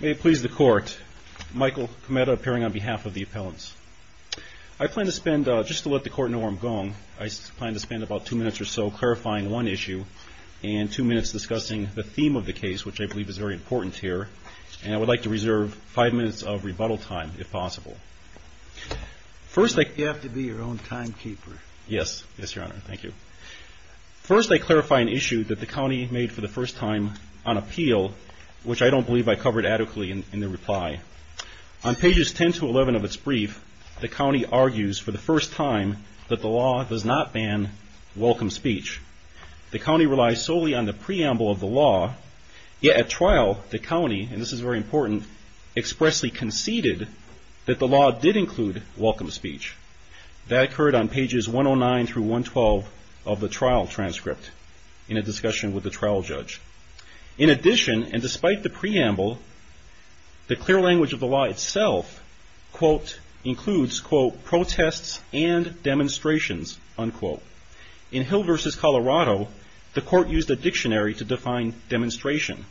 May it please the court, Michael Kometa appearing on behalf of the appellants. I plan to spend, just to let the court know where I'm going, I plan to spend about two minutes or so clarifying one issue and two minutes discussing the theme of the case, which I believe is very important here. And I would like to reserve five minutes of rebuttal time, if possible. You have to be your own timekeeper. Yes, yes, Your Honor. Thank you. First, I clarify an issue that the county made for the first time on appeal, which I don't believe I covered adequately in the reply. On pages 10 to 11 of its brief, the county argues for the first time that the law does not ban welcome speech. The county relies solely on the preamble of the law, yet at trial the county, and this is very important, expressly conceded that the law did include welcome speech. That occurred on pages 109 through 112 of the trial transcript in a discussion with the trial judge. In addition, and despite the preamble, the clear language of the law itself, quote, includes, quote, protests and demonstrations, unquote. In Hill versus Colorado, the court used a dictionary to define demonstration.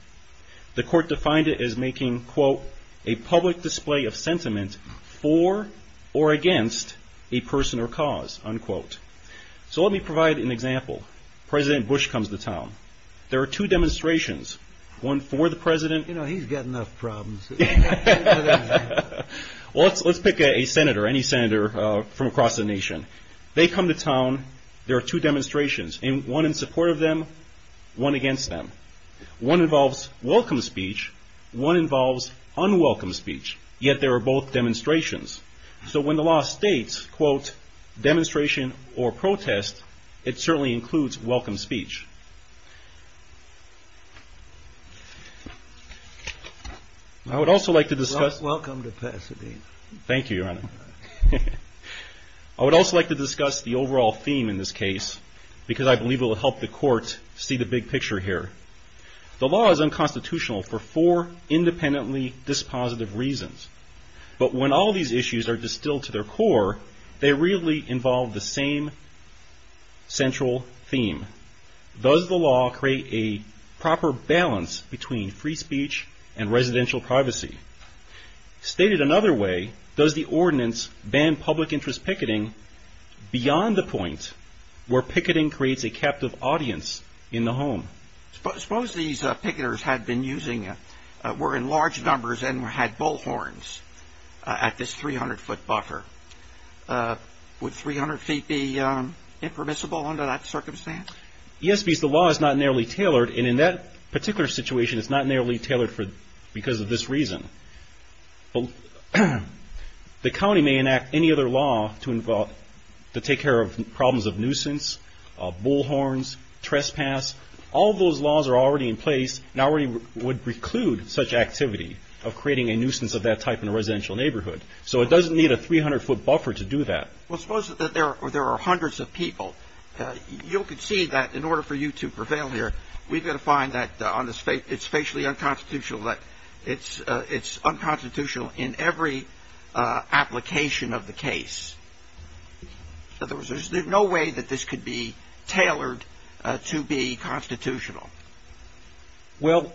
The court defined it as making, quote, a public display of sentiment for or against a person or cause, unquote. So let me provide an example. President Bush comes to town. There are two demonstrations, one for the president. You know, he's got enough problems. Well, let's pick a senator, any senator from across the nation. They come to town. There are two demonstrations, one in support of them, one against them. One involves welcome speech, one involves unwelcome speech, yet there are both demonstrations. So when the law states, quote, demonstration or protest, it certainly includes welcome speech. I would also like to discuss... Welcome to Pasadena. Thank you, Your Honor. I would also like to discuss the overall theme in this case because I believe it will help the court see the big picture here. The law is unconstitutional for four independently dispositive reasons. But when all these issues are distilled to their core, they really involve the same central theme. Does the law create a proper balance between free speech and residential privacy? Stated another way, does the ordinance ban public interest picketing beyond the point where picketing creates a captive audience in the home? Suppose these picketers had been using, were in large numbers and had bullhorns at this 300-foot buffer. Would 300 feet be impermissible under that circumstance? Yes, because the law is not narrowly tailored. And in that particular situation, it's not narrowly tailored because of this reason. The county may enact any other law to take care of problems of nuisance, bullhorns, trespass. All those laws are already in place and already would preclude such activity of creating a nuisance of that type in a residential neighborhood. So it doesn't need a 300-foot buffer to do that. Well, suppose that there are hundreds of people. You'll concede that in order for you to prevail here, we've got to find that it's facially unconstitutional, that it's unconstitutional in every application of the case. In other words, there's no way that this could be tailored to be constitutional. Well…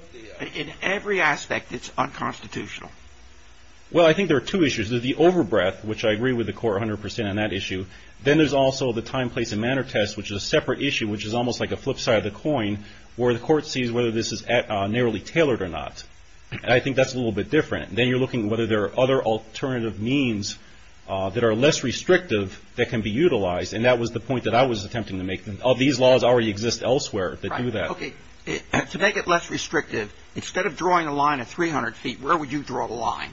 In every aspect, it's unconstitutional. Well, I think there are two issues. There's the overbreath, which I agree with the court 100 percent on that issue. Then there's also the time, place, and manner test, which is a separate issue, which is almost like a flip side of the coin where the court sees whether this is narrowly tailored or not. And I think that's a little bit different. Then you're looking at whether there are other alternative means that are less restrictive that can be utilized. And that was the point that I was attempting to make. These laws already exist elsewhere that do that. Okay. To make it less restrictive, instead of drawing a line at 300 feet, where would you draw the line?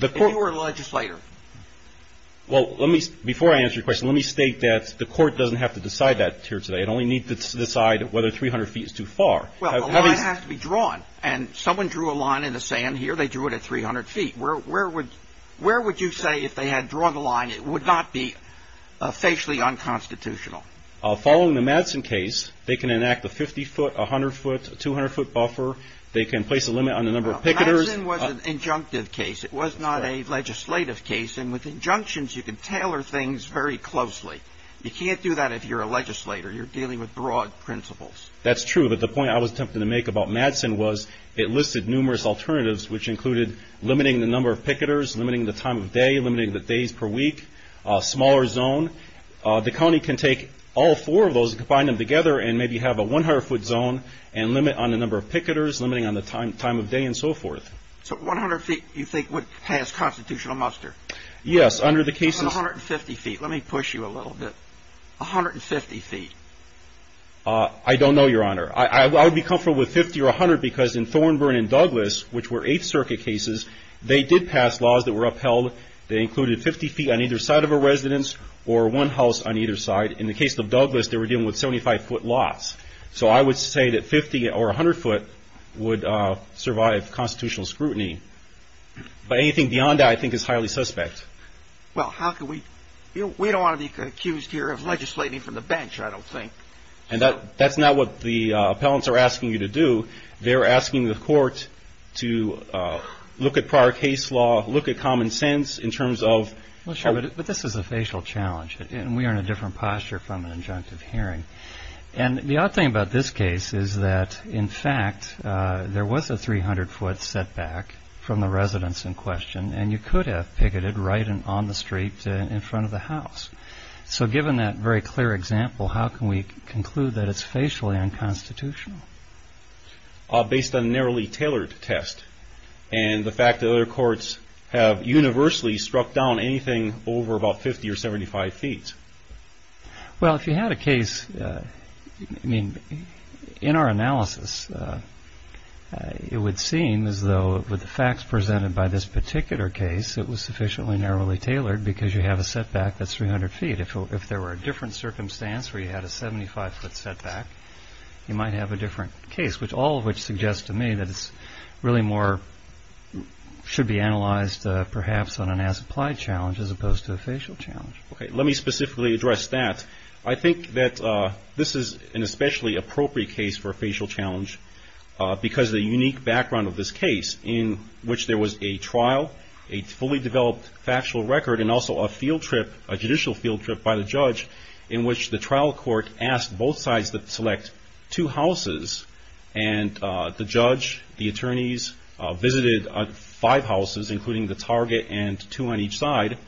If you were a legislator. Well, before I answer your question, let me state that the court doesn't have to decide that here today. It only needs to decide whether 300 feet is too far. Well, the line has to be drawn. And someone drew a line in the sand here. They drew it at 300 feet. Where would you say if they had drawn the line it would not be facially unconstitutional? Following the Madsen case, they can enact a 50-foot, 100-foot, 200-foot buffer. They can place a limit on the number of picketers. Madsen was an injunctive case. It was not a legislative case. And with injunctions, you can tailor things very closely. You can't do that if you're a legislator. You're dealing with broad principles. That's true. But the point I was attempting to make about Madsen was it listed numerous alternatives, which included limiting the number of picketers, limiting the time of day, limiting the days per week, smaller zone. The county can take all four of those and combine them together and maybe have a 100-foot zone and limit on the number of picketers, limiting on the time of day, and so forth. So 100 feet, you think, would pass constitutional muster? Yes. Under the cases — 150 feet. Let me push you a little bit. 150 feet. I don't know, Your Honor. I would be comfortable with 50 or 100 because in Thornburn and Douglas, which were Eighth Circuit cases, they did pass laws that were upheld. They included 50 feet on either side of a residence or one house on either side. In the case of Douglas, they were dealing with 75-foot lots. So I would say that 50 or 100 foot would survive constitutional scrutiny. But anything beyond that, I think, is highly suspect. Well, how can we — we don't want to be accused here of legislating from the bench, I don't think. And that's not what the appellants are asking you to do. They're asking the court to look at prior case law, look at common sense in terms of — Well, sure. But this is a facial challenge, and we are in a different posture from an injunctive hearing. And the odd thing about this case is that, in fact, there was a 300-foot setback from the residence in question, and you could have picketed right on the street in front of the house. So given that very clear example, how can we conclude that it's facially unconstitutional? Based on a narrowly tailored test, and the fact that other courts have universally struck down anything over about 50 or 75 feet. Well, if you had a case — I mean, in our analysis, it would seem as though with the facts presented by this particular case, it was sufficiently narrowly tailored because you have a setback that's 300 feet. If there were a different circumstance where you had a 75-foot setback, you might have a different case, which all of which suggest to me that it's really more — should be analyzed perhaps on an as-applied challenge as opposed to a facial challenge. OK. Let me specifically address that. I think that this is an especially appropriate case for a facial challenge because of the unique background of this case in which there was a trial, a fully developed factual record, and also a field trip, a judicial field trip by the judge in which the trial court asked both sides to select two houses. And the judge, the attorneys, visited five houses, including the target, and two on each side.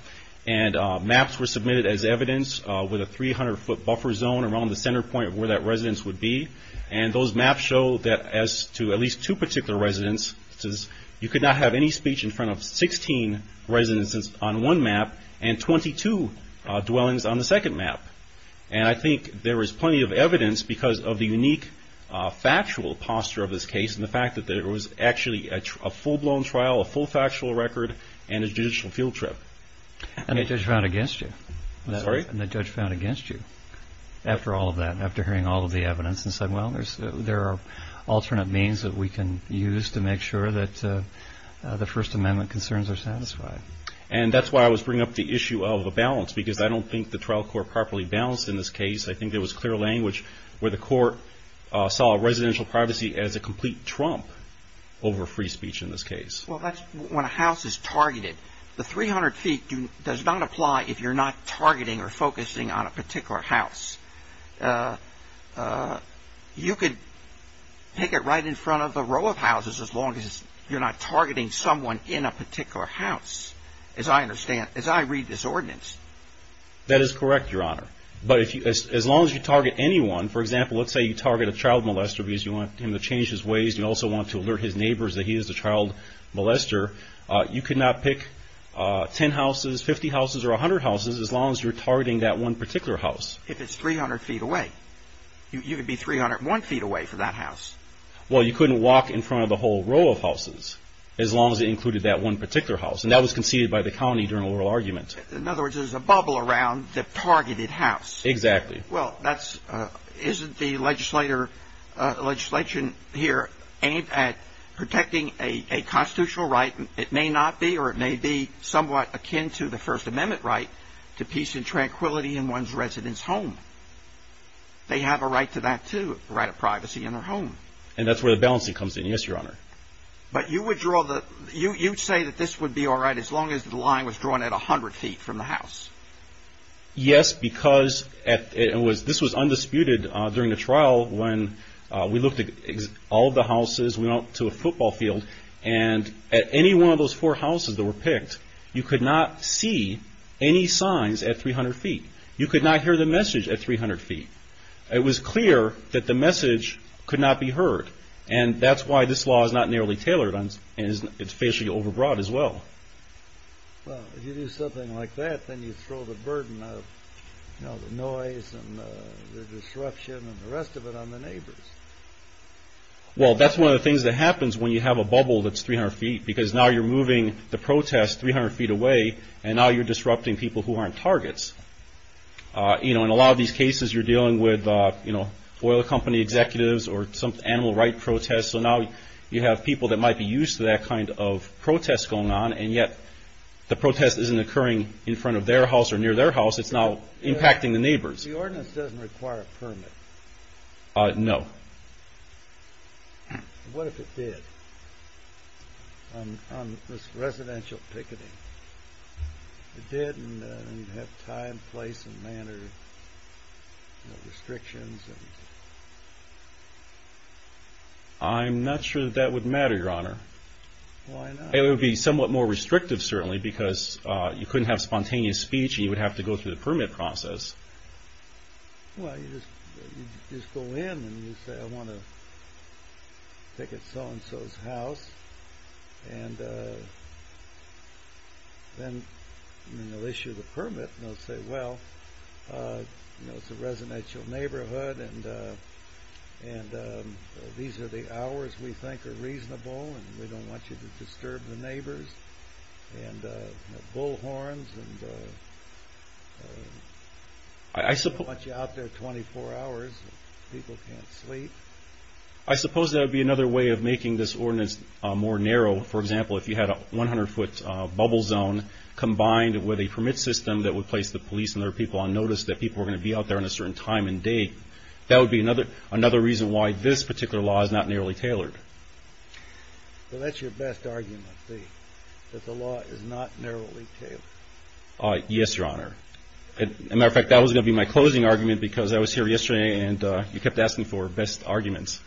And maps were submitted as evidence with a 300-foot buffer zone around the center point of where that residence would be. And those maps show that as to at least two particular residences, you could not have any speech in front of 16 residences on one map and 22 dwellings on the second map. And I think there is plenty of evidence because of the unique factual posture of this case and the fact that there was actually a full-blown trial, a full factual record, and a judicial field trip. I'm sorry? Well, there are alternate means that we can use to make sure that the First Amendment concerns are satisfied. And that's why I was bringing up the issue of a balance because I don't think the trial court properly balanced in this case. I think there was clear language where the court saw residential privacy as a complete trump over free speech in this case. Well, that's when a house is targeted. The 300 feet does not apply if you're not targeting or focusing on a particular house. You could pick it right in front of a row of houses as long as you're not targeting someone in a particular house, as I understand, as I read this ordinance. That is correct, Your Honor. But as long as you target anyone, for example, let's say you target a child molester because you want him to change his ways and you also want to alert his neighbors that he is a child molester, you could not pick 10 houses, 50 houses, or 100 houses as long as you're targeting that one particular house. If it's 300 feet away. You could be 301 feet away from that house. Well, you couldn't walk in front of a whole row of houses as long as it included that one particular house. And that was conceded by the county during oral argument. In other words, there's a bubble around the targeted house. Exactly. Well, isn't the legislation here aimed at protecting a constitutional right? It may not be or it may be somewhat akin to the First Amendment right to peace and tranquility in one's residence home. They have a right to that too, a right of privacy in their home. And that's where the balancing comes in. Yes, Your Honor. But you would say that this would be all right as long as the line was drawn at 100 feet from the house. Yes, because this was undisputed during the trial when we looked at all of the houses, we went to a football field, and at any one of those four houses that were picked, you could not see any signs at 300 feet. You could not hear the message at 300 feet. It was clear that the message could not be heard. And that's why this law is not nearly tailored and it's facially overbroad as well. Well, if you do something like that, then you throw the burden of, you know, the noise and the disruption and the rest of it on the neighbors. Well, that's one of the things that happens when you have a bubble that's 300 feet, because now you're moving the protest 300 feet away, and now you're disrupting people who aren't targets. You know, in a lot of these cases, you're dealing with, you know, oil company executives or some animal rights protests. So now you have people that might be used to that kind of protest going on, and yet the protest isn't occurring in front of their house or near their house. It's now impacting the neighbors. The ordinance doesn't require a permit. No. What if it did on residential picketing? It did, and you'd have time, place, and manner restrictions. I'm not sure that that would matter, Your Honor. Why not? It would be somewhat more restrictive, certainly, because you couldn't have spontaneous speech and you would have to go through the permit process. Well, you just go in and you say, I want to picket so-and-so's house, and then they'll issue the permit, and they'll say, well, you know, it's a residential neighborhood, and these are the hours we think are reasonable, and we don't want you to disturb the neighbors, and bullhorns, and we don't want you out there 24 hours if people can't sleep. I suppose that would be another way of making this ordinance more narrow. For example, if you had a 100-foot bubble zone combined with a permit system that would place the police and other people on notice that people were going to be out there on a certain time and date, that would be another reason why this particular law is not nearly tailored. Well, that's your best argument, see, that the law is not narrowly tailored. Yes, Your Honor. As a matter of fact, that was going to be my closing argument because I was here yesterday and you kept asking for best arguments.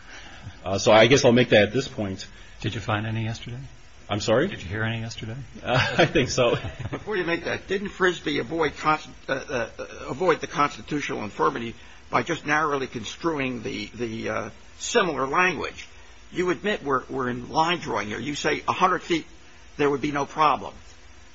So I guess I'll make that at this point. Did you find any yesterday? I'm sorry? Did you hear any yesterday? I think so. Before you make that, didn't Frisbee avoid the constitutional infirmity by just narrowly construing the similar language? You admit we're in line drawing here. You say 100 feet, there would be no problem.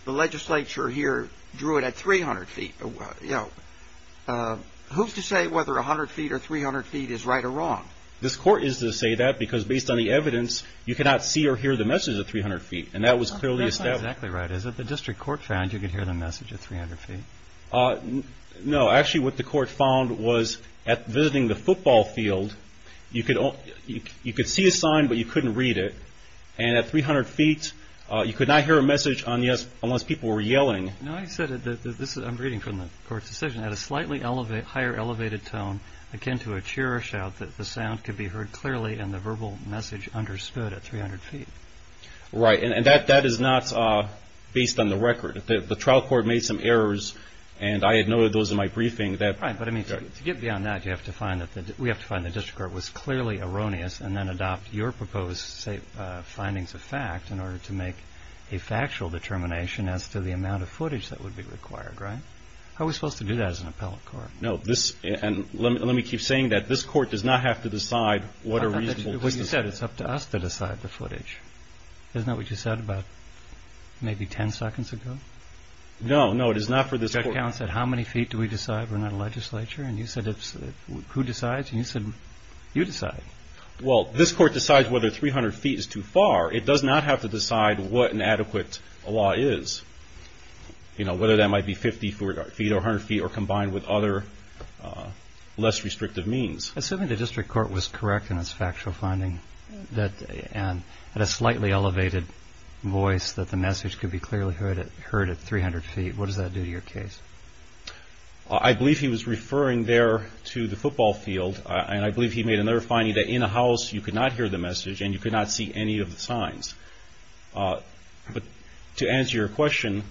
The legislature here drew it at 300 feet. Who's to say whether 100 feet or 300 feet is right or wrong? This Court is to say that because based on the evidence, you cannot see or hear the message at 300 feet, and that was clearly established. That's not exactly right, is it? The district court found you could hear the message at 300 feet. No, actually what the court found was at visiting the football field, you could see a sign but you couldn't read it, and at 300 feet you could not hear a message unless people were yelling. I'm reading from the Court's decision. At a slightly higher elevated tone, akin to a cheer or shout, the sound could be heard clearly and the verbal message understood at 300 feet. Right, and that is not based on the record. The trial court made some errors, and I had noted those in my briefing. Right, but to get beyond that, we have to find the district court was clearly erroneous and then adopt your proposed findings of fact in order to make a factual determination as to the amount of footage that would be required, right? How are we supposed to do that as an appellate court? No, and let me keep saying that this Court does not have to decide what a reasonable distance is. It's up to us to decide the footage. Isn't that what you said about maybe 10 seconds ago? No, no, it is not for this Court. Judge Allen said, how many feet do we decide? We're not a legislature. And you said, who decides? And you said, you decide. Well, this Court decides whether 300 feet is too far. It does not have to decide what an adequate law is, whether that might be 50 feet or 100 feet or combined with other less restrictive means. Assuming the district court was correct in its factual finding and had a slightly elevated voice that the message could be clearly heard at 300 feet, what does that do to your case? I believe he was referring there to the football field, and I believe he made another finding that in a house you could not hear the message and you could not see any of the signs. But to answer your question...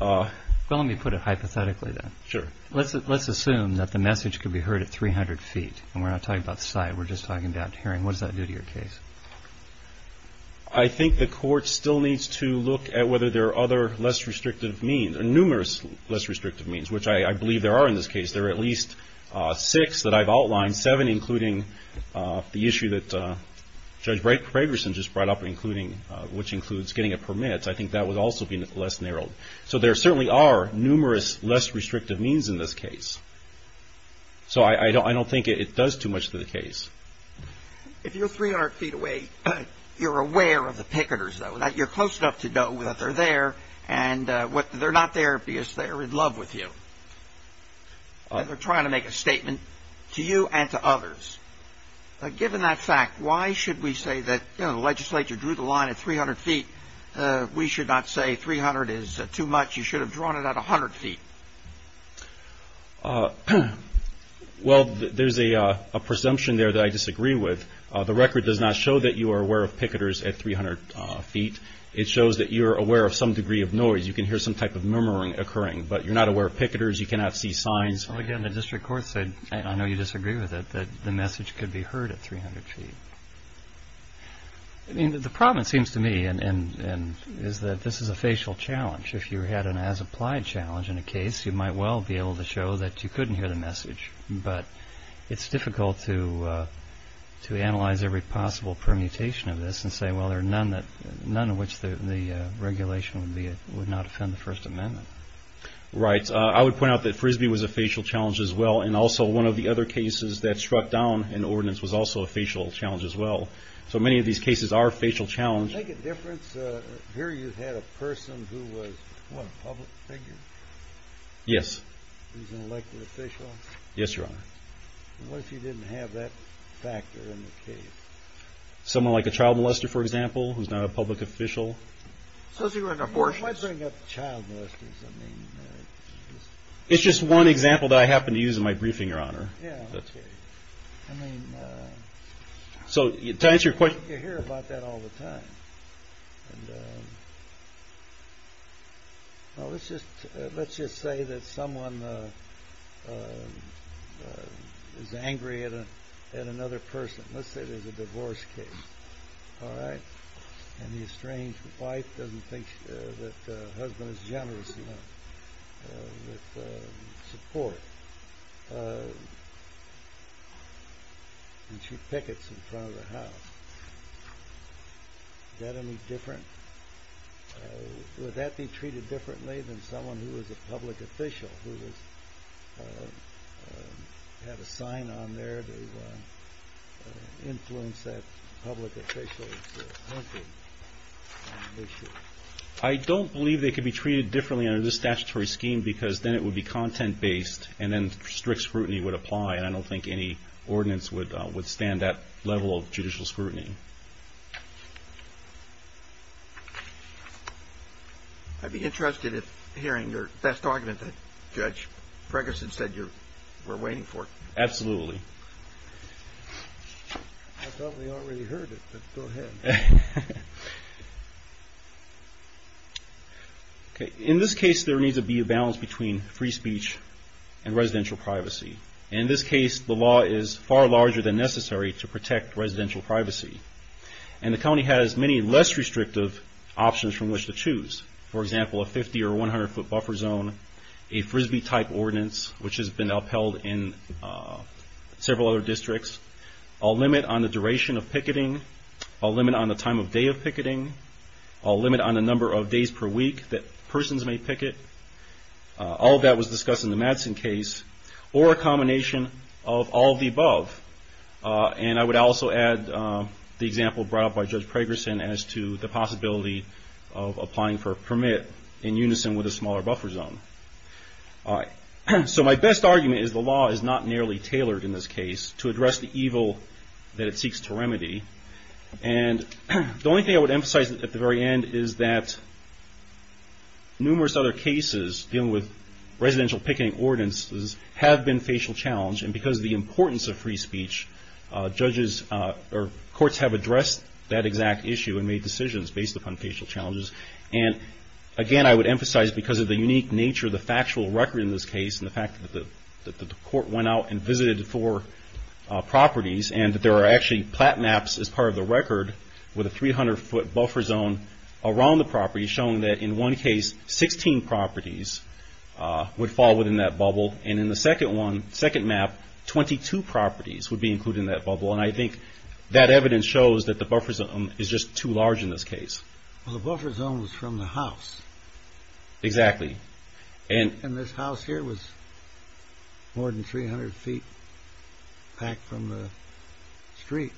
Well, let me put it hypothetically then. Sure. Let's assume that the message could be heard at 300 feet, and we're not talking about sight, we're just talking about hearing. What does that do to your case? I think the Court still needs to look at whether there are other less restrictive means, or numerous less restrictive means, which I believe there are in this case. There are at least six that I've outlined, seven including the issue that Judge Gregersen just brought up, which includes getting a permit. I think that would also be less narrowed. So there certainly are numerous less restrictive means in this case. So I don't think it does too much to the case. If you're 300 feet away, you're aware of the picketers, though, that you're close enough to know that they're there, and they're not there because they're in love with you. They're trying to make a statement to you and to others. Given that fact, why should we say that the legislature drew the line at 300 feet? We should not say 300 is too much. You should have drawn it at 100 feet. Well, there's a presumption there that I disagree with. The record does not show that you are aware of picketers at 300 feet. It shows that you're aware of some degree of noise. You can hear some type of murmuring occurring, but you're not aware of picketers. You cannot see signs. Well, again, the district court said, and I know you disagree with it, that the message could be heard at 300 feet. I mean, the problem, it seems to me, is that this is a facial challenge. If you had an as-applied challenge in a case, you might well be able to show that you couldn't hear the message. But it's difficult to analyze every possible permutation of this and say, well, there are none of which the regulation would not offend the First Amendment. Right. I would point out that Frisbee was a facial challenge as well, and also one of the other cases that struck down an ordinance was also a facial challenge as well. So many of these cases are facial challenges. Does it make a difference? Here you had a person who was, what, a public figure? Yes. He was an elected official? Yes, Your Honor. And what if he didn't have that factor in the case? Someone like a child molester, for example, who's not a public official. Suppose he was an abortionist. What about child molesters? It's just one example that I happen to use in my briefing, Your Honor. Yeah, okay. I mean, you hear about that all the time. Let's just say that someone is angry at another person. Let's say there's a divorce case, all right, and the estranged wife doesn't think that the husband is generous enough with support, and she pickets in front of the house. Would that be treated differently than someone who is a public official who would have a sign on there to influence that public official? I don't believe they could be treated differently under this statutory scheme because then it would be content-based, and then strict scrutiny would apply, and I don't think any ordinance would withstand that level of judicial scrutiny. I'd be interested in hearing your best argument that Judge Ferguson said you were waiting for. Absolutely. I thought we already heard it, but go ahead. Okay. In this case, there needs to be a balance between free speech and residential privacy. In this case, the law is far larger than necessary to protect residential privacy, and the county has many less restrictive options from which to choose. For example, a 50- or 100-foot buffer zone, a Frisbee-type ordinance, which has been upheld in several other districts, a limit on the duration of picketing, a limit on the time of day of picketing, a limit on the number of days per week that persons may picket. All of that was discussed in the Madsen case. Or a combination of all of the above. And I would also add the example brought up by Judge Pragerson as to the possibility of applying for a permit in unison with a smaller buffer zone. All right. So my best argument is the law is not nearly tailored in this case to address the evil that it seeks to remedy. And the only thing I would emphasize at the very end is that numerous other cases dealing with residential picketing ordinances have been facial challenged. And because of the importance of free speech, judges or courts have addressed that exact issue and made decisions based upon facial challenges. And again, I would emphasize because of the unique nature of the factual record in this case and the fact that the court went out and visited four properties and that there are actually plat maps as part of the record with a 300-foot buffer zone around the property showing that in one case, 16 properties would fall within that bubble. And in the second one, second map, 22 properties would be included in that bubble. And I think that evidence shows that the buffer zone is just too large in this case. Well, the buffer zone was from the house. Exactly. And this house here was more than 300 feet back from the street.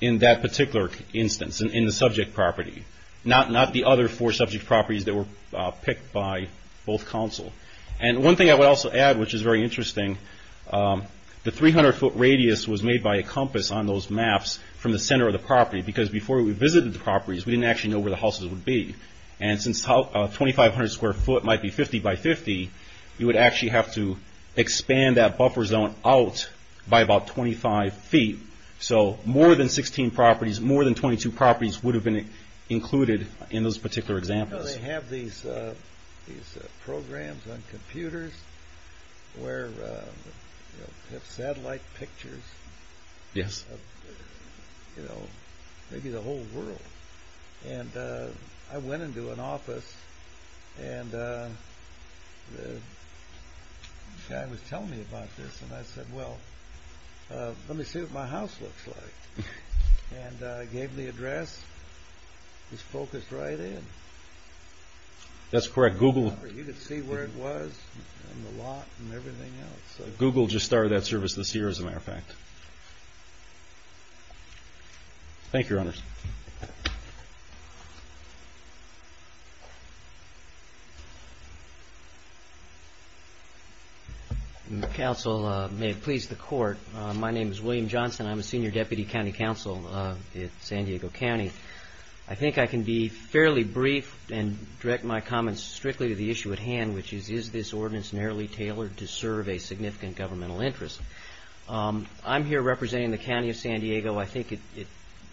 In that particular instance, in the subject property. Not the other four subject properties that were picked by both counsel. And one thing I would also add, which is very interesting, the 300-foot radius was made by a compass on those maps from the center of the property because before we visited the properties, we didn't actually know where the houses would be. And since 2,500 square foot might be 50 by 50, you would actually have to expand that buffer zone out by about 25 feet. So more than 16 properties, more than 22 properties would have been included in those particular examples. You know, they have these programs on computers where they have satellite pictures of maybe the whole world. And I went into an office and the guy was telling me about this. And I said, well, let me see what my house looks like. And I gave the address. It was focused right in. That's correct. You could see where it was and the lot and everything else. Thank you, Your Honors. Counsel, may it please the Court. My name is William Johnson. I'm a senior deputy county counsel in San Diego County. I think I can be fairly brief and direct my comments strictly to the issue at hand, which is, is this ordinance narrowly tailored to serve a significant governmental interest? I'm here representing the county of San Diego. I think it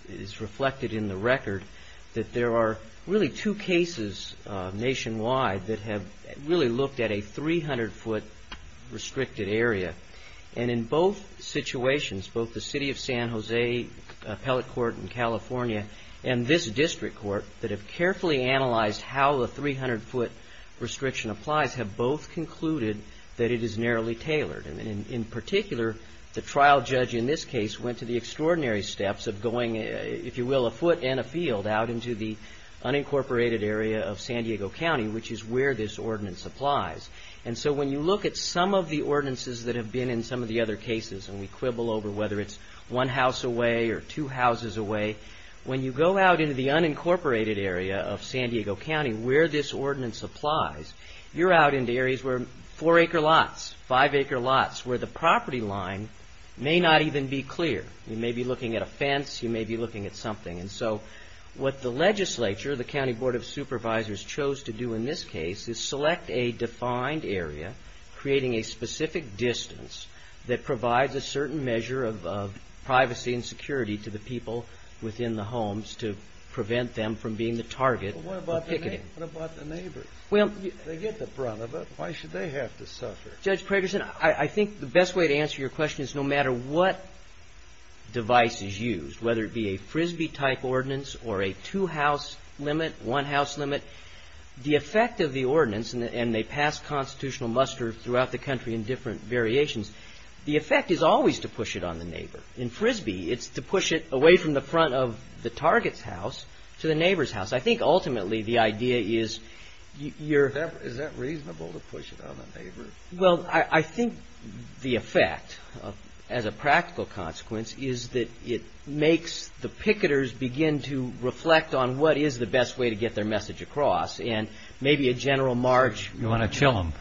is reflected in the record that there are really two cases nationwide that have really looked at a 300-foot restricted area. And in both situations, both the city of San Jose appellate court in California and this district court that have carefully analyzed how the 300-foot restriction applies have both concluded that it is narrowly tailored. And in particular, the trial judge in this case went to the extraordinary steps of going, if you will, a foot and a field out into the unincorporated area of San Diego County, which is where this ordinance applies. And so when you look at some of the ordinances that have been in some of the other cases, and we quibble over whether it's one house away or two houses away, when you go out into the unincorporated area of San Diego County where this ordinance applies, you're out into areas where four-acre lots, five-acre lots, where the property line may not even be clear. You may be looking at a fence. You may be looking at something. And so what the legislature, the County Board of Supervisors, chose to do in this case is select a defined area creating a specific distance that provides a certain measure of privacy and security to the people within the homes to prevent them from being the target of picketing. What about the neighbors? They get the brunt of it. Why should they have to suffer? Judge Pragerson, I think the best way to answer your question is no matter what device is used, whether it be a Frisbee-type ordinance or a two-house limit, one-house limit, the effect of the ordinance, and they pass constitutional muster throughout the country in different variations, the effect is always to push it on the neighbor. In Frisbee, it's to push it away from the front of the target's house to the neighbor's house. I think ultimately the idea is you're. Is that reasonable to push it on the neighbor? Well, I think the effect as a practical consequence is that it makes the picketers begin to reflect on what is the best way to get their message across, and maybe a general march. You want to chill them.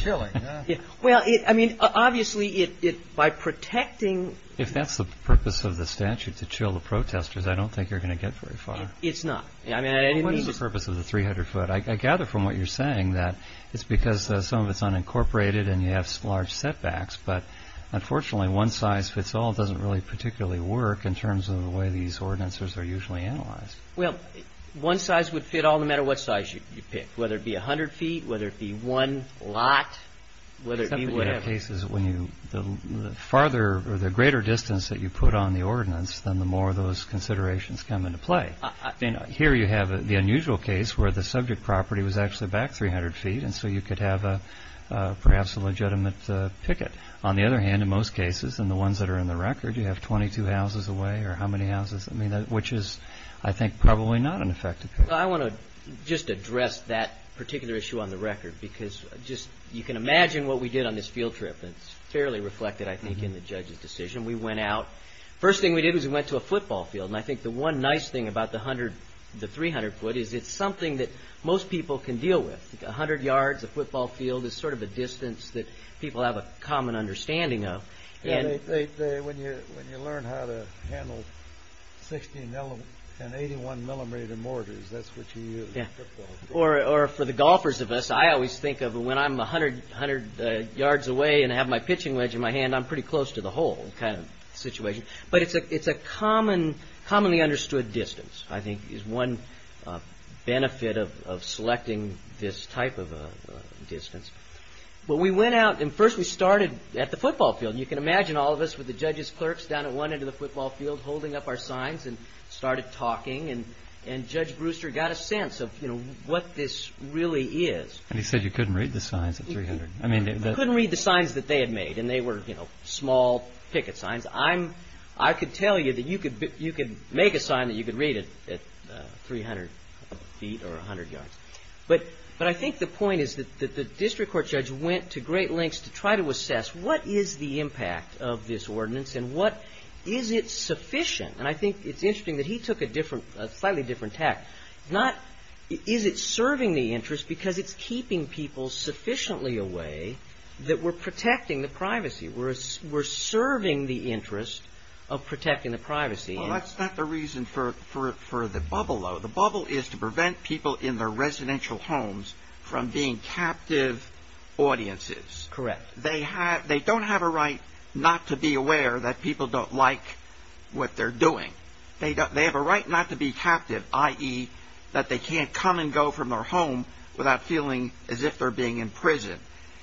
Chilling, huh? Well, I mean, obviously by protecting. If that's the purpose of the statute, to chill the protesters, I don't think you're going to get very far. It's not. What is the purpose of the 300-foot? I gather from what you're saying that it's because some of it's unincorporated and you have large setbacks, but unfortunately one size fits all doesn't really particularly work in terms of the way these ordinances are usually analyzed. Well, one size would fit all no matter what size you pick, whether it be 100 feet, whether it be one lot, whether it be whatever. The farther or the greater distance that you put on the ordinance, then the more of those considerations come into play. Here you have the unusual case where the subject property was actually back 300 feet, and so you could have perhaps a legitimate picket. On the other hand, in most cases, and the ones that are in the record, you have 22 houses away, or how many houses? Which is, I think, probably not an effective picket. I want to just address that particular issue on the record because you can imagine what we did on this field trip. It's fairly reflected, I think, in the judge's decision. We went out. The first thing we did was we went to a football field, and I think the one nice thing about the 300-foot is it's something that most people can deal with. A hundred yards, a football field is sort of a distance that people have a common understanding of. When you learn how to handle 16- and 81-millimeter mortars, that's what you use. Or for the golfers of us, I always think of when I'm 100 yards away and I have my pitching wedge in my hand, I'm pretty close to the hole kind of situation. But it's a commonly understood distance, I think, is one benefit of selecting this type of distance. But we went out, and first we started at the football field. You can imagine all of us with the judge's clerks down at one end of the football field holding up our signs and started talking, and Judge Brewster got a sense of what this really is. And he said you couldn't read the signs at 300. You couldn't read the signs that they had made, and they were small picket signs. I could tell you that you could make a sign that you could read at 300 feet or 100 yards. But I think the point is that the district court judge went to great lengths to try to assess what is the impact of this ordinance and what is it sufficient. And I think it's interesting that he took a slightly different tact. Not is it serving the interest because it's keeping people sufficiently away that we're protecting the privacy. Well, that's not the reason for the bubble, though. The bubble is to prevent people in their residential homes from being captive audiences. Correct. They don't have a right not to be aware that people don't like what they're doing. They have a right not to be captive, i.e., that they can't come and go from their home without feeling as if they're being imprisoned.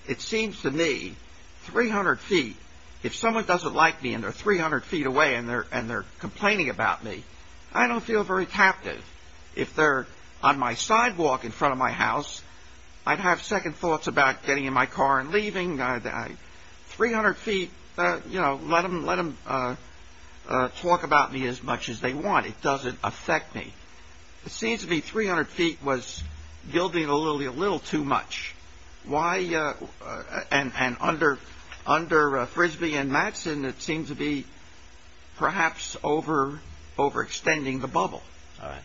It seems to me 300 feet, if someone doesn't like me and they're 300 feet away and they're complaining about me, I don't feel very captive. If they're on my sidewalk in front of my house, I'd have second thoughts about getting in my car and leaving. 300 feet, you know, let them talk about me as much as they want. It doesn't affect me. It seems to me 300 feet was building a little too much. Why? And under Frisbee and Mattson, it seems to be perhaps overextending the bubble. All right.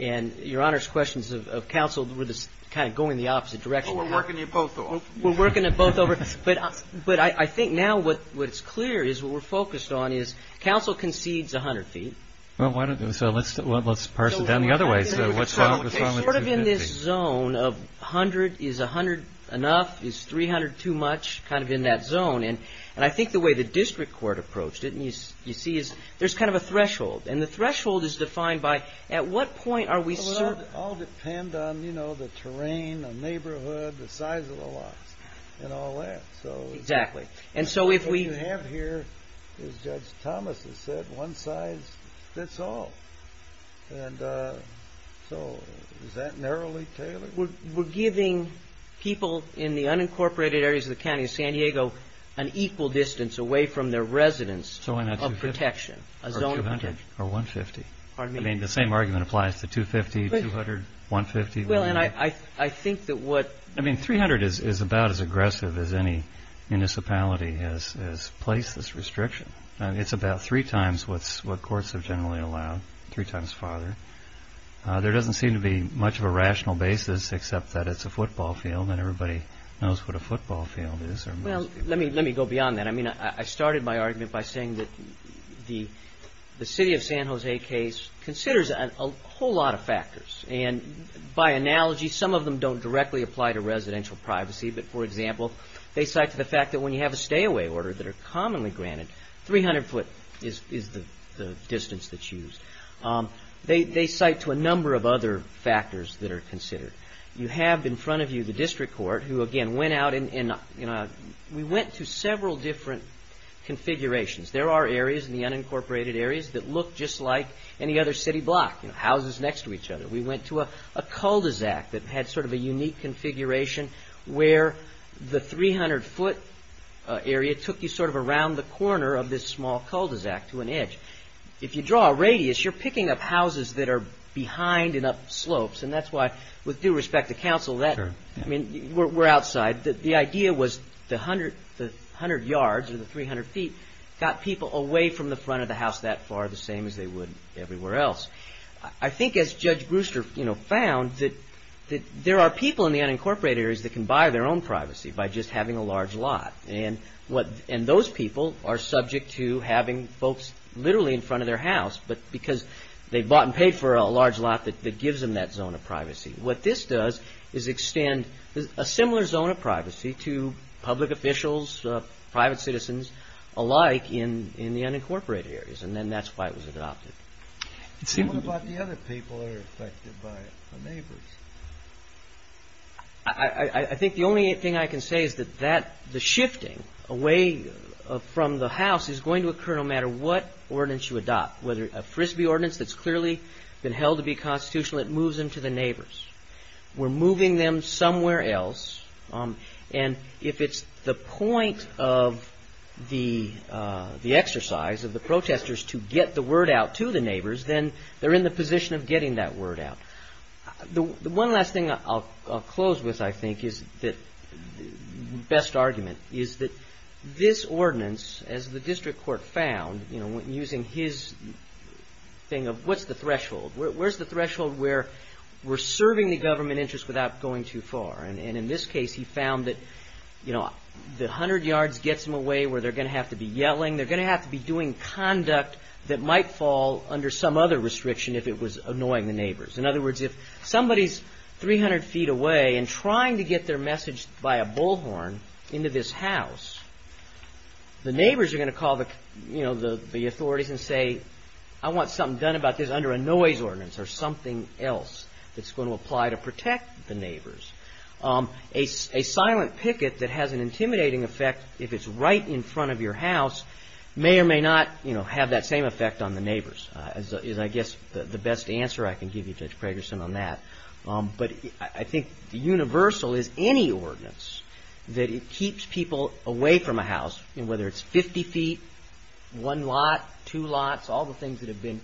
And Your Honor's questions of counsel were kind of going the opposite direction. We're working at both. We're working at both. But I think now what's clear is what we're focused on is counsel concedes 100 feet. So let's parse it down the other way. Sort of in this zone of 100 is 100 enough? Is 300 too much? Kind of in that zone. And I think the way the district court approached it, you see, is there's kind of a threshold. And the threshold is defined by at what point are we certain? Well, it all depends on, you know, the terrain, the neighborhood, the size of the lot and all that. Exactly. And so if we have here, as Judge Thomas has said, one size fits all. And so is that narrowly tailored? We're giving people in the unincorporated areas of the county of San Diego an equal distance away from their residence of protection. So why not 250? Or 200? Or 150? Pardon me? I mean, the same argument applies to 250, 200, 150? Well, and I think that what – I mean, 300 is about as aggressive as any municipality has placed this restriction. It's about three times what courts have generally allowed, three times farther. There doesn't seem to be much of a rational basis except that it's a football field and everybody knows what a football field is. Well, let me go beyond that. I mean, I started my argument by saying that the city of San Jose case considers a whole lot of factors. And by analogy, some of them don't directly apply to residential privacy. But, for example, they cite to the fact that when you have a stay-away order that are commonly granted, 300 foot is the distance that's used. They cite to a number of other factors that are considered. You have in front of you the district court who, again, went out and, you know, we went to several different configurations. There are areas in the unincorporated areas that look just like any other city block, you know, houses next to each other. We went to a cul-de-sac that had sort of a unique configuration where the 300 foot area took you sort of around the corner of this small cul-de-sac to an edge. If you draw a radius, you're picking up houses that are behind and up slopes. And that's why, with due respect to counsel, that, I mean, we're outside. The idea was the 100 yards or the 300 feet got people away from the front of the house that far, the same as they would everywhere else. I think, as Judge Brewster, you know, found, that there are people in the unincorporated areas that can buy their own privacy by just having a large lot. And those people are subject to having folks literally in front of their house because they bought and paid for a large lot that gives them that zone of privacy. What this does is extend a similar zone of privacy to public officials, private citizens alike in the unincorporated areas. And then that's why it was adopted. What about the other people that are affected by it, the neighbors? I think the only thing I can say is that the shifting away from the house is going to occur no matter what ordinance you adopt. Whether a Frisbee ordinance that's clearly been held to be constitutional, it moves into the neighbors. We're moving them somewhere else. And if it's the point of the exercise of the protesters to get the word out to the neighbors, then they're in the position of getting that word out. The one last thing I'll close with, I think, is the best argument is that this ordinance, as the district court found, you know, using his thing of what's the threshold? Where's the threshold where we're serving the government interest without going too far? And in this case, he found that 100 yards gets them away where they're going to have to be yelling. They're going to have to be doing conduct that might fall under some other restriction if it was annoying the neighbors. In other words, if somebody's 300 feet away and trying to get their message by a bullhorn into this house, the neighbors are going to call the authorities and say, I want something done about this under a noise ordinance or something else that's going to apply to protect the neighbors. A silent picket that has an intimidating effect if it's right in front of your house may or may not have that same effect on the neighbors. That is, I guess, the best answer I can give you, Judge Pragerson, on that. But I think the universal is any ordinance that keeps people away from a house, whether it's 50 feet, one lot, two lots, all the things that have been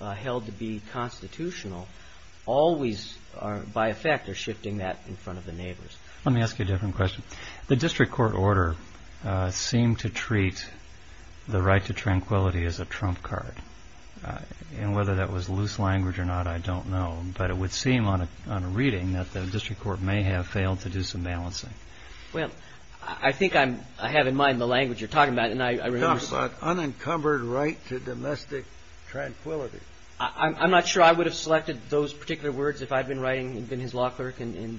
held to be constitutional always, by effect, are shifting that in front of the neighbors. Let me ask you a different question. The district court order seemed to treat the right to tranquility as a trump card. And whether that was loose language or not, I don't know. But it would seem on a reading that the district court may have failed to do some balancing. Well, I think I have in mind the language you're talking about. Talk about unencumbered right to domestic tranquility. I'm not sure I would have selected those particular words if I'd been writing, been his law clerk and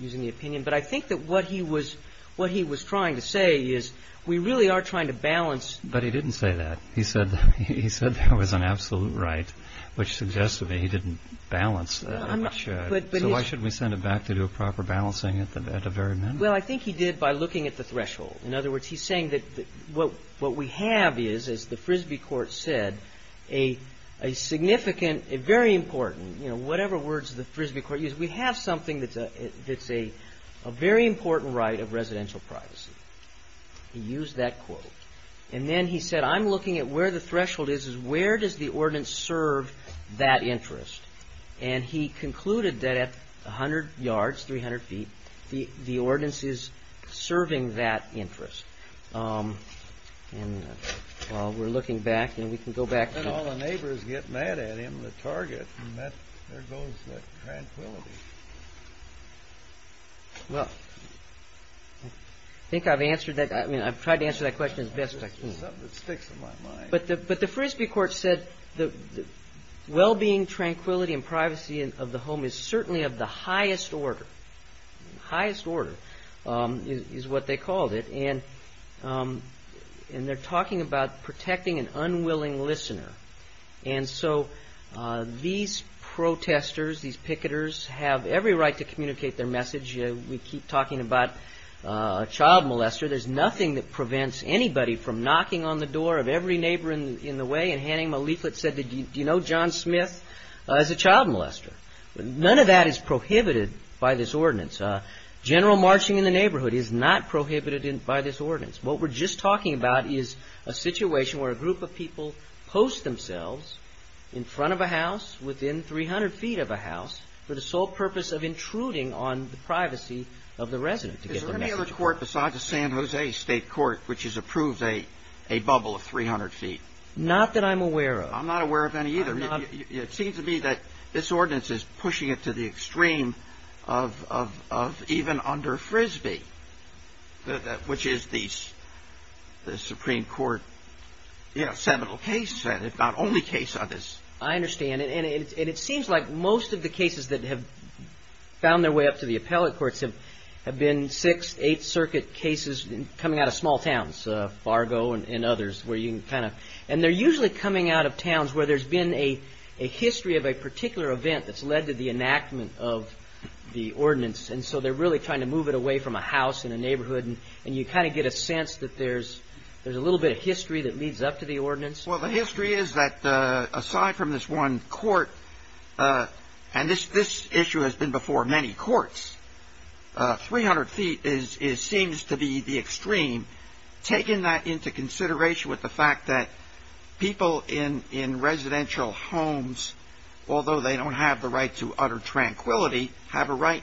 using the opinion. But I think that what he was trying to say is we really are trying to balance. But he didn't say that. He said that was an absolute right, which suggests to me he didn't balance that. So why shouldn't we send it back to do a proper balancing at the very minimum? Well, I think he did by looking at the threshold. In other words, he's saying that what we have is, as the Frisbee court said, a significant, a very important, you know, whatever words the Frisbee court used, we have something that's a very important right of residential privacy. He used that quote. And then he said, I'm looking at where the threshold is, is where does the ordinance serve that interest? And he concluded that at 100 yards, 300 feet, the ordinance is serving that interest. And while we're looking back and we can go back. And all the neighbors get mad at him, the target, and there goes that tranquility. Well, I think I've answered that. I mean, I've tried to answer that question as best I can. It's something that sticks in my mind. But the Frisbee court said the well-being, tranquility, and privacy of the home is certainly of the highest order. Highest order is what they called it. And they're talking about protecting an unwilling listener. And so these protesters, these picketers, have every right to communicate their message. We keep talking about child molester. There's nothing that prevents anybody from knocking on the door of every neighbor in the way and handing them a leaflet and saying, do you know John Smith? He's a child molester. None of that is prohibited by this ordinance. General marching in the neighborhood is not prohibited by this ordinance. What we're just talking about is a situation where a group of people post themselves in front of a house, within 300 feet of a house, for the sole purpose of intruding on the privacy of the resident. Is there any other court besides the San Jose State Court which has approved a bubble of 300 feet? Not that I'm aware of. I'm not aware of any either. It seems to me that this ordinance is pushing it to the extreme of even under Frisbee, which is the Supreme Court, you know, seminal case, if not only case of this. I understand. And it seems like most of the cases that have found their way up to the appellate courts have been six, eight circuit cases coming out of small towns, Fargo and others, where you can kind of. And they're usually coming out of towns where there's been a history of a particular event that's led to the enactment of the ordinance. And so they're really trying to move it away from a house in a neighborhood. And you kind of get a sense that there's a little bit of history that leads up to the ordinance. Well, the history is that aside from this one court, and this issue has been before many courts, 300 feet seems to be the extreme, taking that into consideration with the fact that people in residential homes, although they don't have the right to utter tranquility, have a right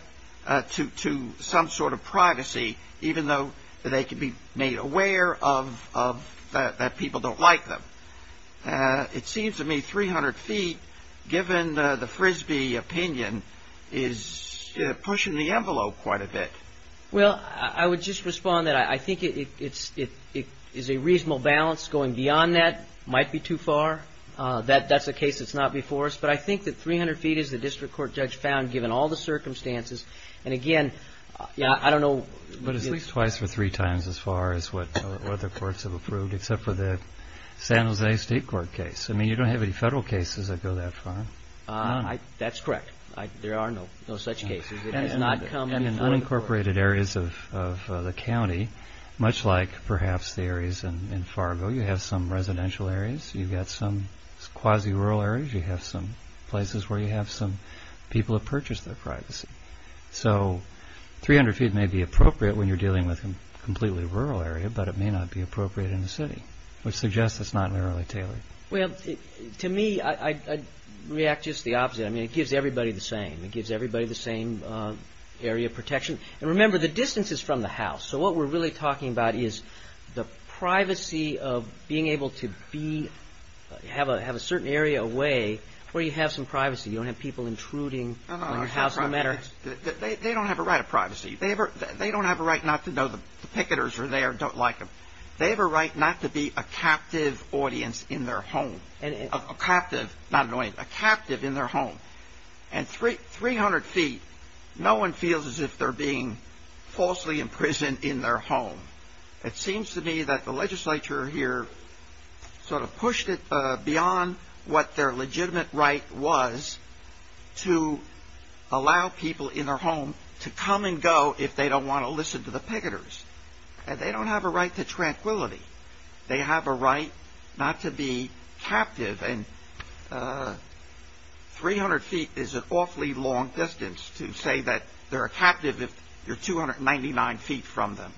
to some sort of privacy, even though they can be made aware of that people don't like them. It seems to me 300 feet, given the Frisbee opinion, is pushing the envelope quite a bit. Well, I would just respond that I think it is a reasonable balance. Going beyond that might be too far. That's a case that's not before us. But I think that 300 feet is the district court judge found, given all the circumstances. But at least twice or three times as far as what other courts have approved, except for the San Jose State Court case. I mean, you don't have any federal cases that go that far. That's correct. There are no such cases. And in unincorporated areas of the county, much like perhaps the areas in Fargo, you have some residential areas, you've got some quasi-rural areas, you have some places where you have some people who have purchased their privacy. So 300 feet may be appropriate when you're dealing with a completely rural area, but it may not be appropriate in the city, which suggests it's not narrowly tailored. Well, to me, I'd react just the opposite. I mean, it gives everybody the same. It gives everybody the same area protection. And remember, the distance is from the house. So what we're really talking about is the privacy of being able to have a certain area away where you have some privacy. You don't have people intruding on your house. They don't have a right of privacy. They don't have a right not to know the picketers are there and don't like them. They have a right not to be a captive audience in their home. A captive, not an audience, a captive in their home. And 300 feet, no one feels as if they're being falsely imprisoned in their home. It seems to me that the legislature here sort of pushed it beyond what their legitimate right was to allow people in their home to come and go if they don't want to listen to the picketers. They don't have a right to tranquility. They have a right not to be captive. And 300 feet is an awfully long distance to say that they're a captive if you're 299 feet from them.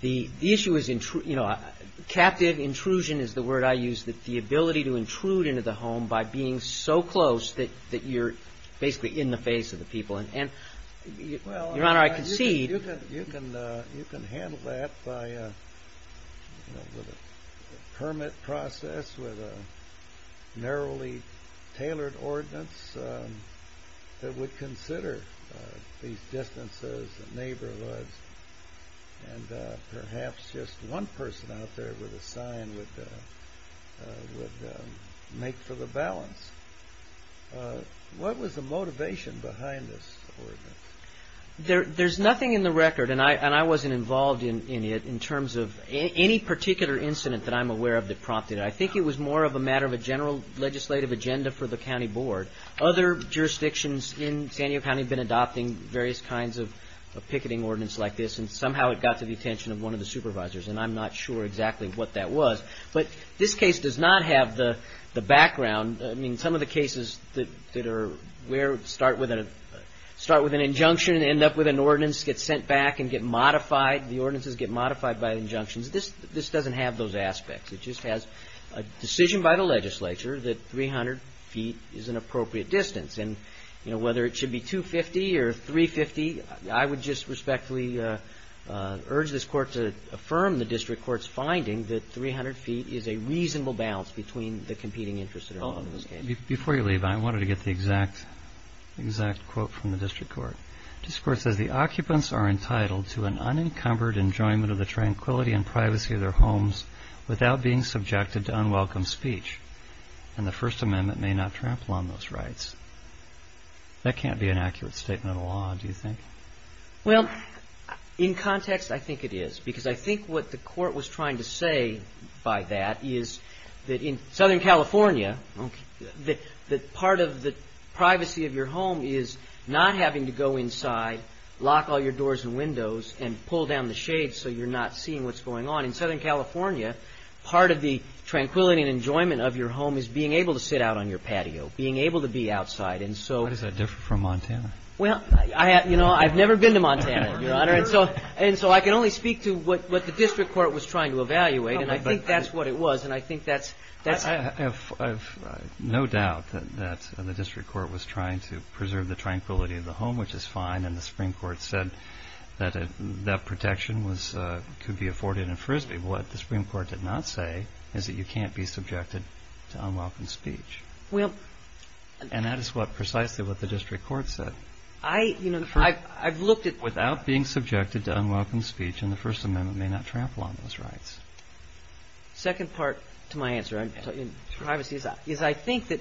The issue is, you know, captive intrusion is the word I use, the ability to intrude into the home by being so close that you're basically in the face of the people. Your Honor, I concede... You can handle that by a permit process with a narrowly tailored ordinance that would consider these distances and neighborhoods. And perhaps just one person out there with a sign would make for the balance. What was the motivation behind this ordinance? There's nothing in the record, and I wasn't involved in it, in terms of any particular incident that I'm aware of that prompted it. I think it was more of a matter of a general legislative agenda for the county board. Other jurisdictions in San Diego County have been adopting various kinds of picketing ordinance like this, and somehow it got to the attention of one of the supervisors, and I'm not sure exactly what that was. But this case does not have the background. I mean, some of the cases that start with an injunction and end up with an ordinance get sent back and get modified. The ordinances get modified by injunctions. This doesn't have those aspects. It just has a decision by the legislature that 300 feet is an appropriate distance. And whether it should be 250 or 350, I would just respectfully urge this court to affirm the district court's finding that 300 feet is a reasonable balance between the competing interests that are involved in this case. Before you leave, I wanted to get the exact quote from the district court. The district court says the occupants are entitled to an unencumbered enjoyment of the tranquility and privacy of their homes without being subjected to unwelcome speech, and the First Amendment may not trample on those rights. That can't be an accurate statement of law, do you think? Well, in context, I think it is. Because I think what the court was trying to say by that is that in Southern California, that part of the privacy of your home is not having to go inside, lock all your doors and windows, and pull down the shades so you're not seeing what's going on. In Southern California, part of the tranquility and enjoyment of your home is being able to sit out on your patio, being able to be outside. Why does that differ from Montana? Well, you know, I've never been to Montana, Your Honor, and so I can only speak to what the district court was trying to evaluate, and I think that's what it was, and I think that's... I have no doubt that the district court was trying to preserve the tranquility of the home, which is fine, and the Supreme Court said that that protection could be afforded in Frisbee. What the Supreme Court did not say is that you can't be subjected to unwelcome speech. And that is what precisely what the district court said. I've looked at... Without being subjected to unwelcome speech, and the First Amendment may not trample on those rights. The second part to my answer in privacy is I think that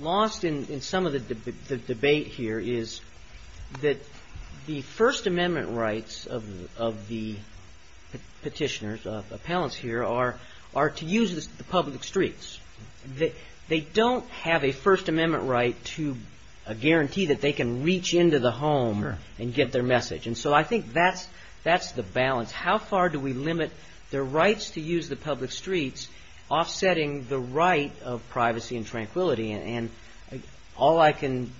lost in some of the debate here is that the First Amendment rights of the Petitioners, appellants here, are to use the public streets. They don't have a First Amendment right to a guarantee that they can reach into the home and get their message. And so I think that's the balance. How far do we limit their rights to use the public streets, offsetting the right of privacy and tranquility? And all I can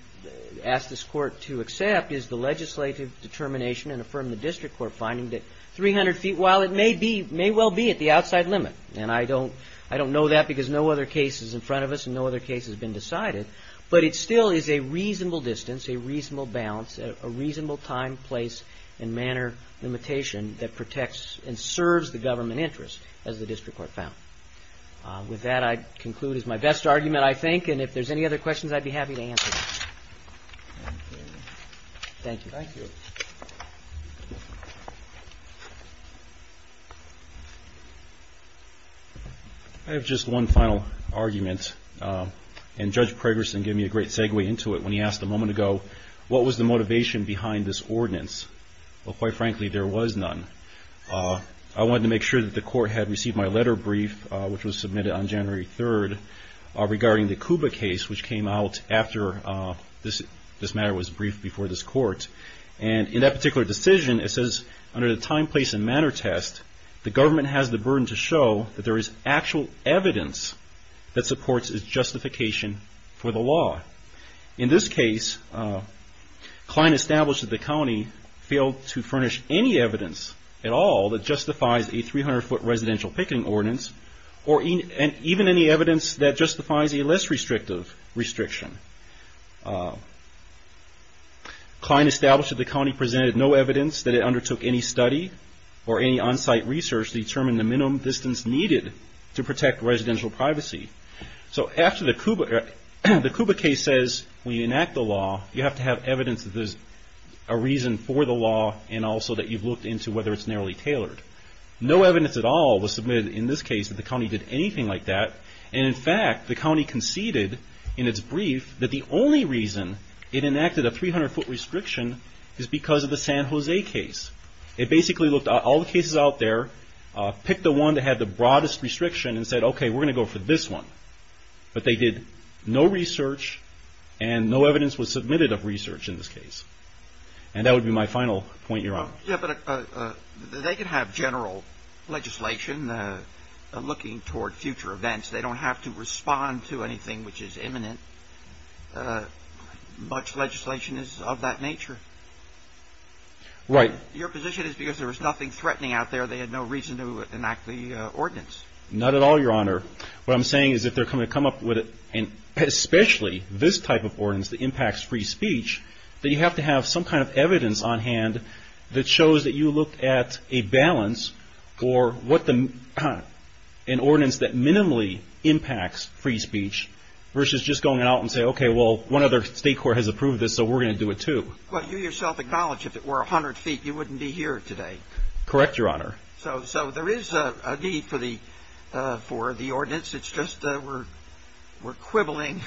ask this Court to accept is the legislative determination and affirm the district court finding that 300 feet, while it may well be at the outside limit, and I don't know that because no other case is in front of us and no other case has been decided, but it still is a reasonable distance, a reasonable balance, a reasonable time, place, and manner limitation that protects and serves the government interest, as the district court found. With that, I conclude. It's my best argument, I think. And if there's any other questions, I'd be happy to answer them. Thank you. Thank you. I have just one final argument, and Judge Pregerson gave me a great segue into it when he asked a moment ago, what was the motivation behind this ordinance? Well, quite frankly, there was none. I wanted to make sure that the Court had received my letter brief, which was submitted on January 3rd, regarding the Cuba case, which came out after this matter was briefed before this Court. And in that particular decision, it says, under the time, place, and manner test, the government has the burden to show that there is actual evidence that supports its justification for the law. In this case, Kline established that the county failed to furnish any evidence at all that justifies a 300-foot residential picketing ordinance, or even any evidence that justifies a less restrictive restriction. Kline established that the county presented no evidence that it undertook any study or any on-site research to determine the minimum distance needed to protect residential privacy. So after the Cuba case says we enact the law, you have to have evidence that there's a reason for the law, and also that you've looked into whether it's narrowly tailored. No evidence at all was submitted in this case that the county did anything like that. And in fact, the county conceded in its brief that the only reason it enacted a 300-foot restriction is because of the San Jose case. It basically looked at all the cases out there, picked the one that had the broadest restriction, and said, okay, we're going to go for this one. But they did no research, and no evidence was submitted of research in this case. And that would be my final point you're on. Yeah, but they could have general legislation looking toward future events. They don't have to respond to anything which is imminent. Much legislation is of that nature. Right. Your position is because there was nothing threatening out there, they had no reason to enact the ordinance. Not at all, Your Honor. What I'm saying is if they're going to come up with an especially this type of ordinance that impacts free speech, that you have to have some kind of evidence on hand that shows that you looked at a balance for an ordinance that minimally impacts free speech versus just going out and saying, okay, well, one other state court has approved this, so we're going to do it too. Well, you yourself acknowledged if it were 100 feet, you wouldn't be here today. Correct, Your Honor. So there is a need for the ordinance. It's just we're quibbling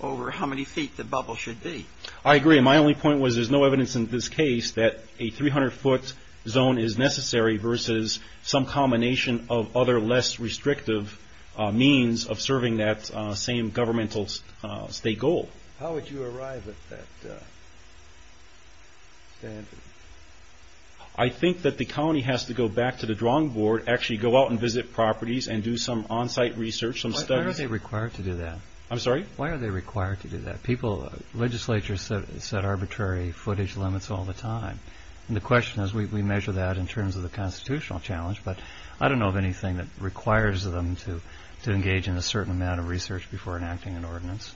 over how many feet the bubble should be. I agree. My only point was there's no evidence in this case that a 300-foot zone is necessary versus some combination of other less restrictive means of serving that same governmental state goal. How would you arrive at that standard? I think that the county has to go back to the drawing board, actually go out and visit properties and do some on-site research, some studies. Why are they required to do that? I'm sorry? Why are they required to do that? Legislature set arbitrary footage limits all the time, and the question is we measure that in terms of the constitutional challenge, but I don't know of anything that requires them to engage in a certain amount of research before enacting an ordinance.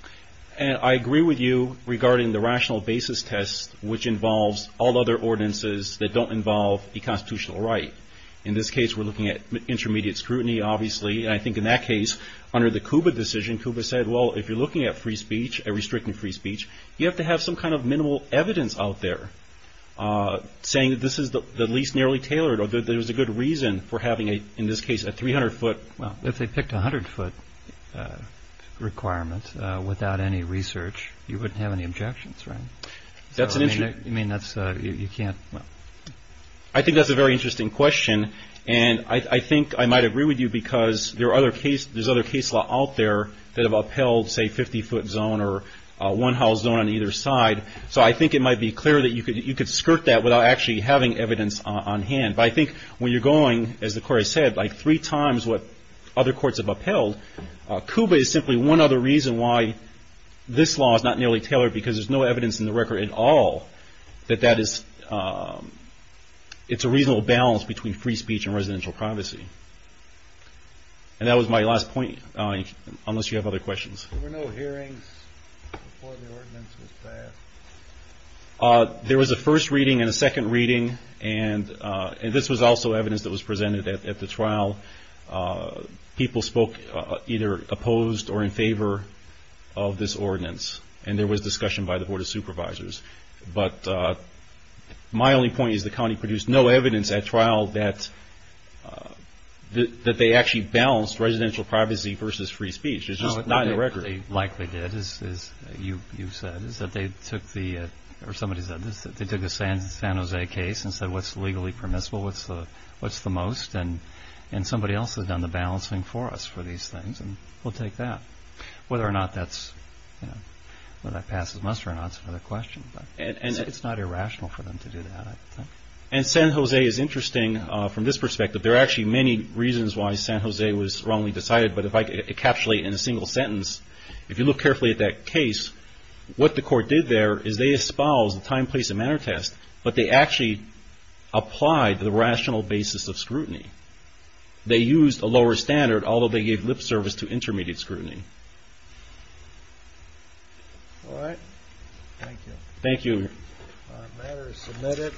I agree with you regarding the rational basis test, which involves all other ordinances that don't involve a constitutional right. In this case, we're looking at intermediate scrutiny, obviously. I think in that case, under the KUBA decision, KUBA said, well, if you're looking at free speech, restricting free speech, you have to have some kind of minimal evidence out there saying this is the least nearly tailored or there's a good reason for having, in this case, a 300-foot. Well, if they picked a 100-foot requirement without any research, you wouldn't have any objections, right? That's an issue. I mean, you can't. I think that's a very interesting question, and I think I might agree with you because there's other case law out there that have upheld, say, 50-foot zone or one-house zone on either side, so I think it might be clear that you could skirt that without actually having evidence on hand. But I think when you're going, as the court has said, like three times what other courts have upheld, KUBA is simply one other reason why this law is not nearly tailored because there's no evidence in the record at all that that is, it's a reasonable balance between free speech and residential privacy. And that was my last point, unless you have other questions. There were no hearings before the ordinance was passed? There was a first reading and a second reading, and this was also evidence that was presented at the trial. People spoke either opposed or in favor of this ordinance, and there was discussion by the Board of Supervisors. But my only point is the county produced no evidence at trial that they actually balanced residential privacy versus free speech. It's just not in the record. What they likely did, as you've said, is that they took the San Jose case and said what's legally permissible, what's the most, and somebody else has done the balancing for us for these things, and we'll take that. Whether or not that passes must or not is another question, but it's not irrational for them to do that. And San Jose is interesting from this perspective. There are actually many reasons why San Jose was wrongly decided, but if I could encapsulate in a single sentence, if you look carefully at that case, what the court did there is they espoused the time, place, and manner test, but they actually applied the rational basis of scrutiny. They used a lower standard, although they gave lip service to intermediate scrutiny. All right. Thank you. Thank you. The matter is submitted.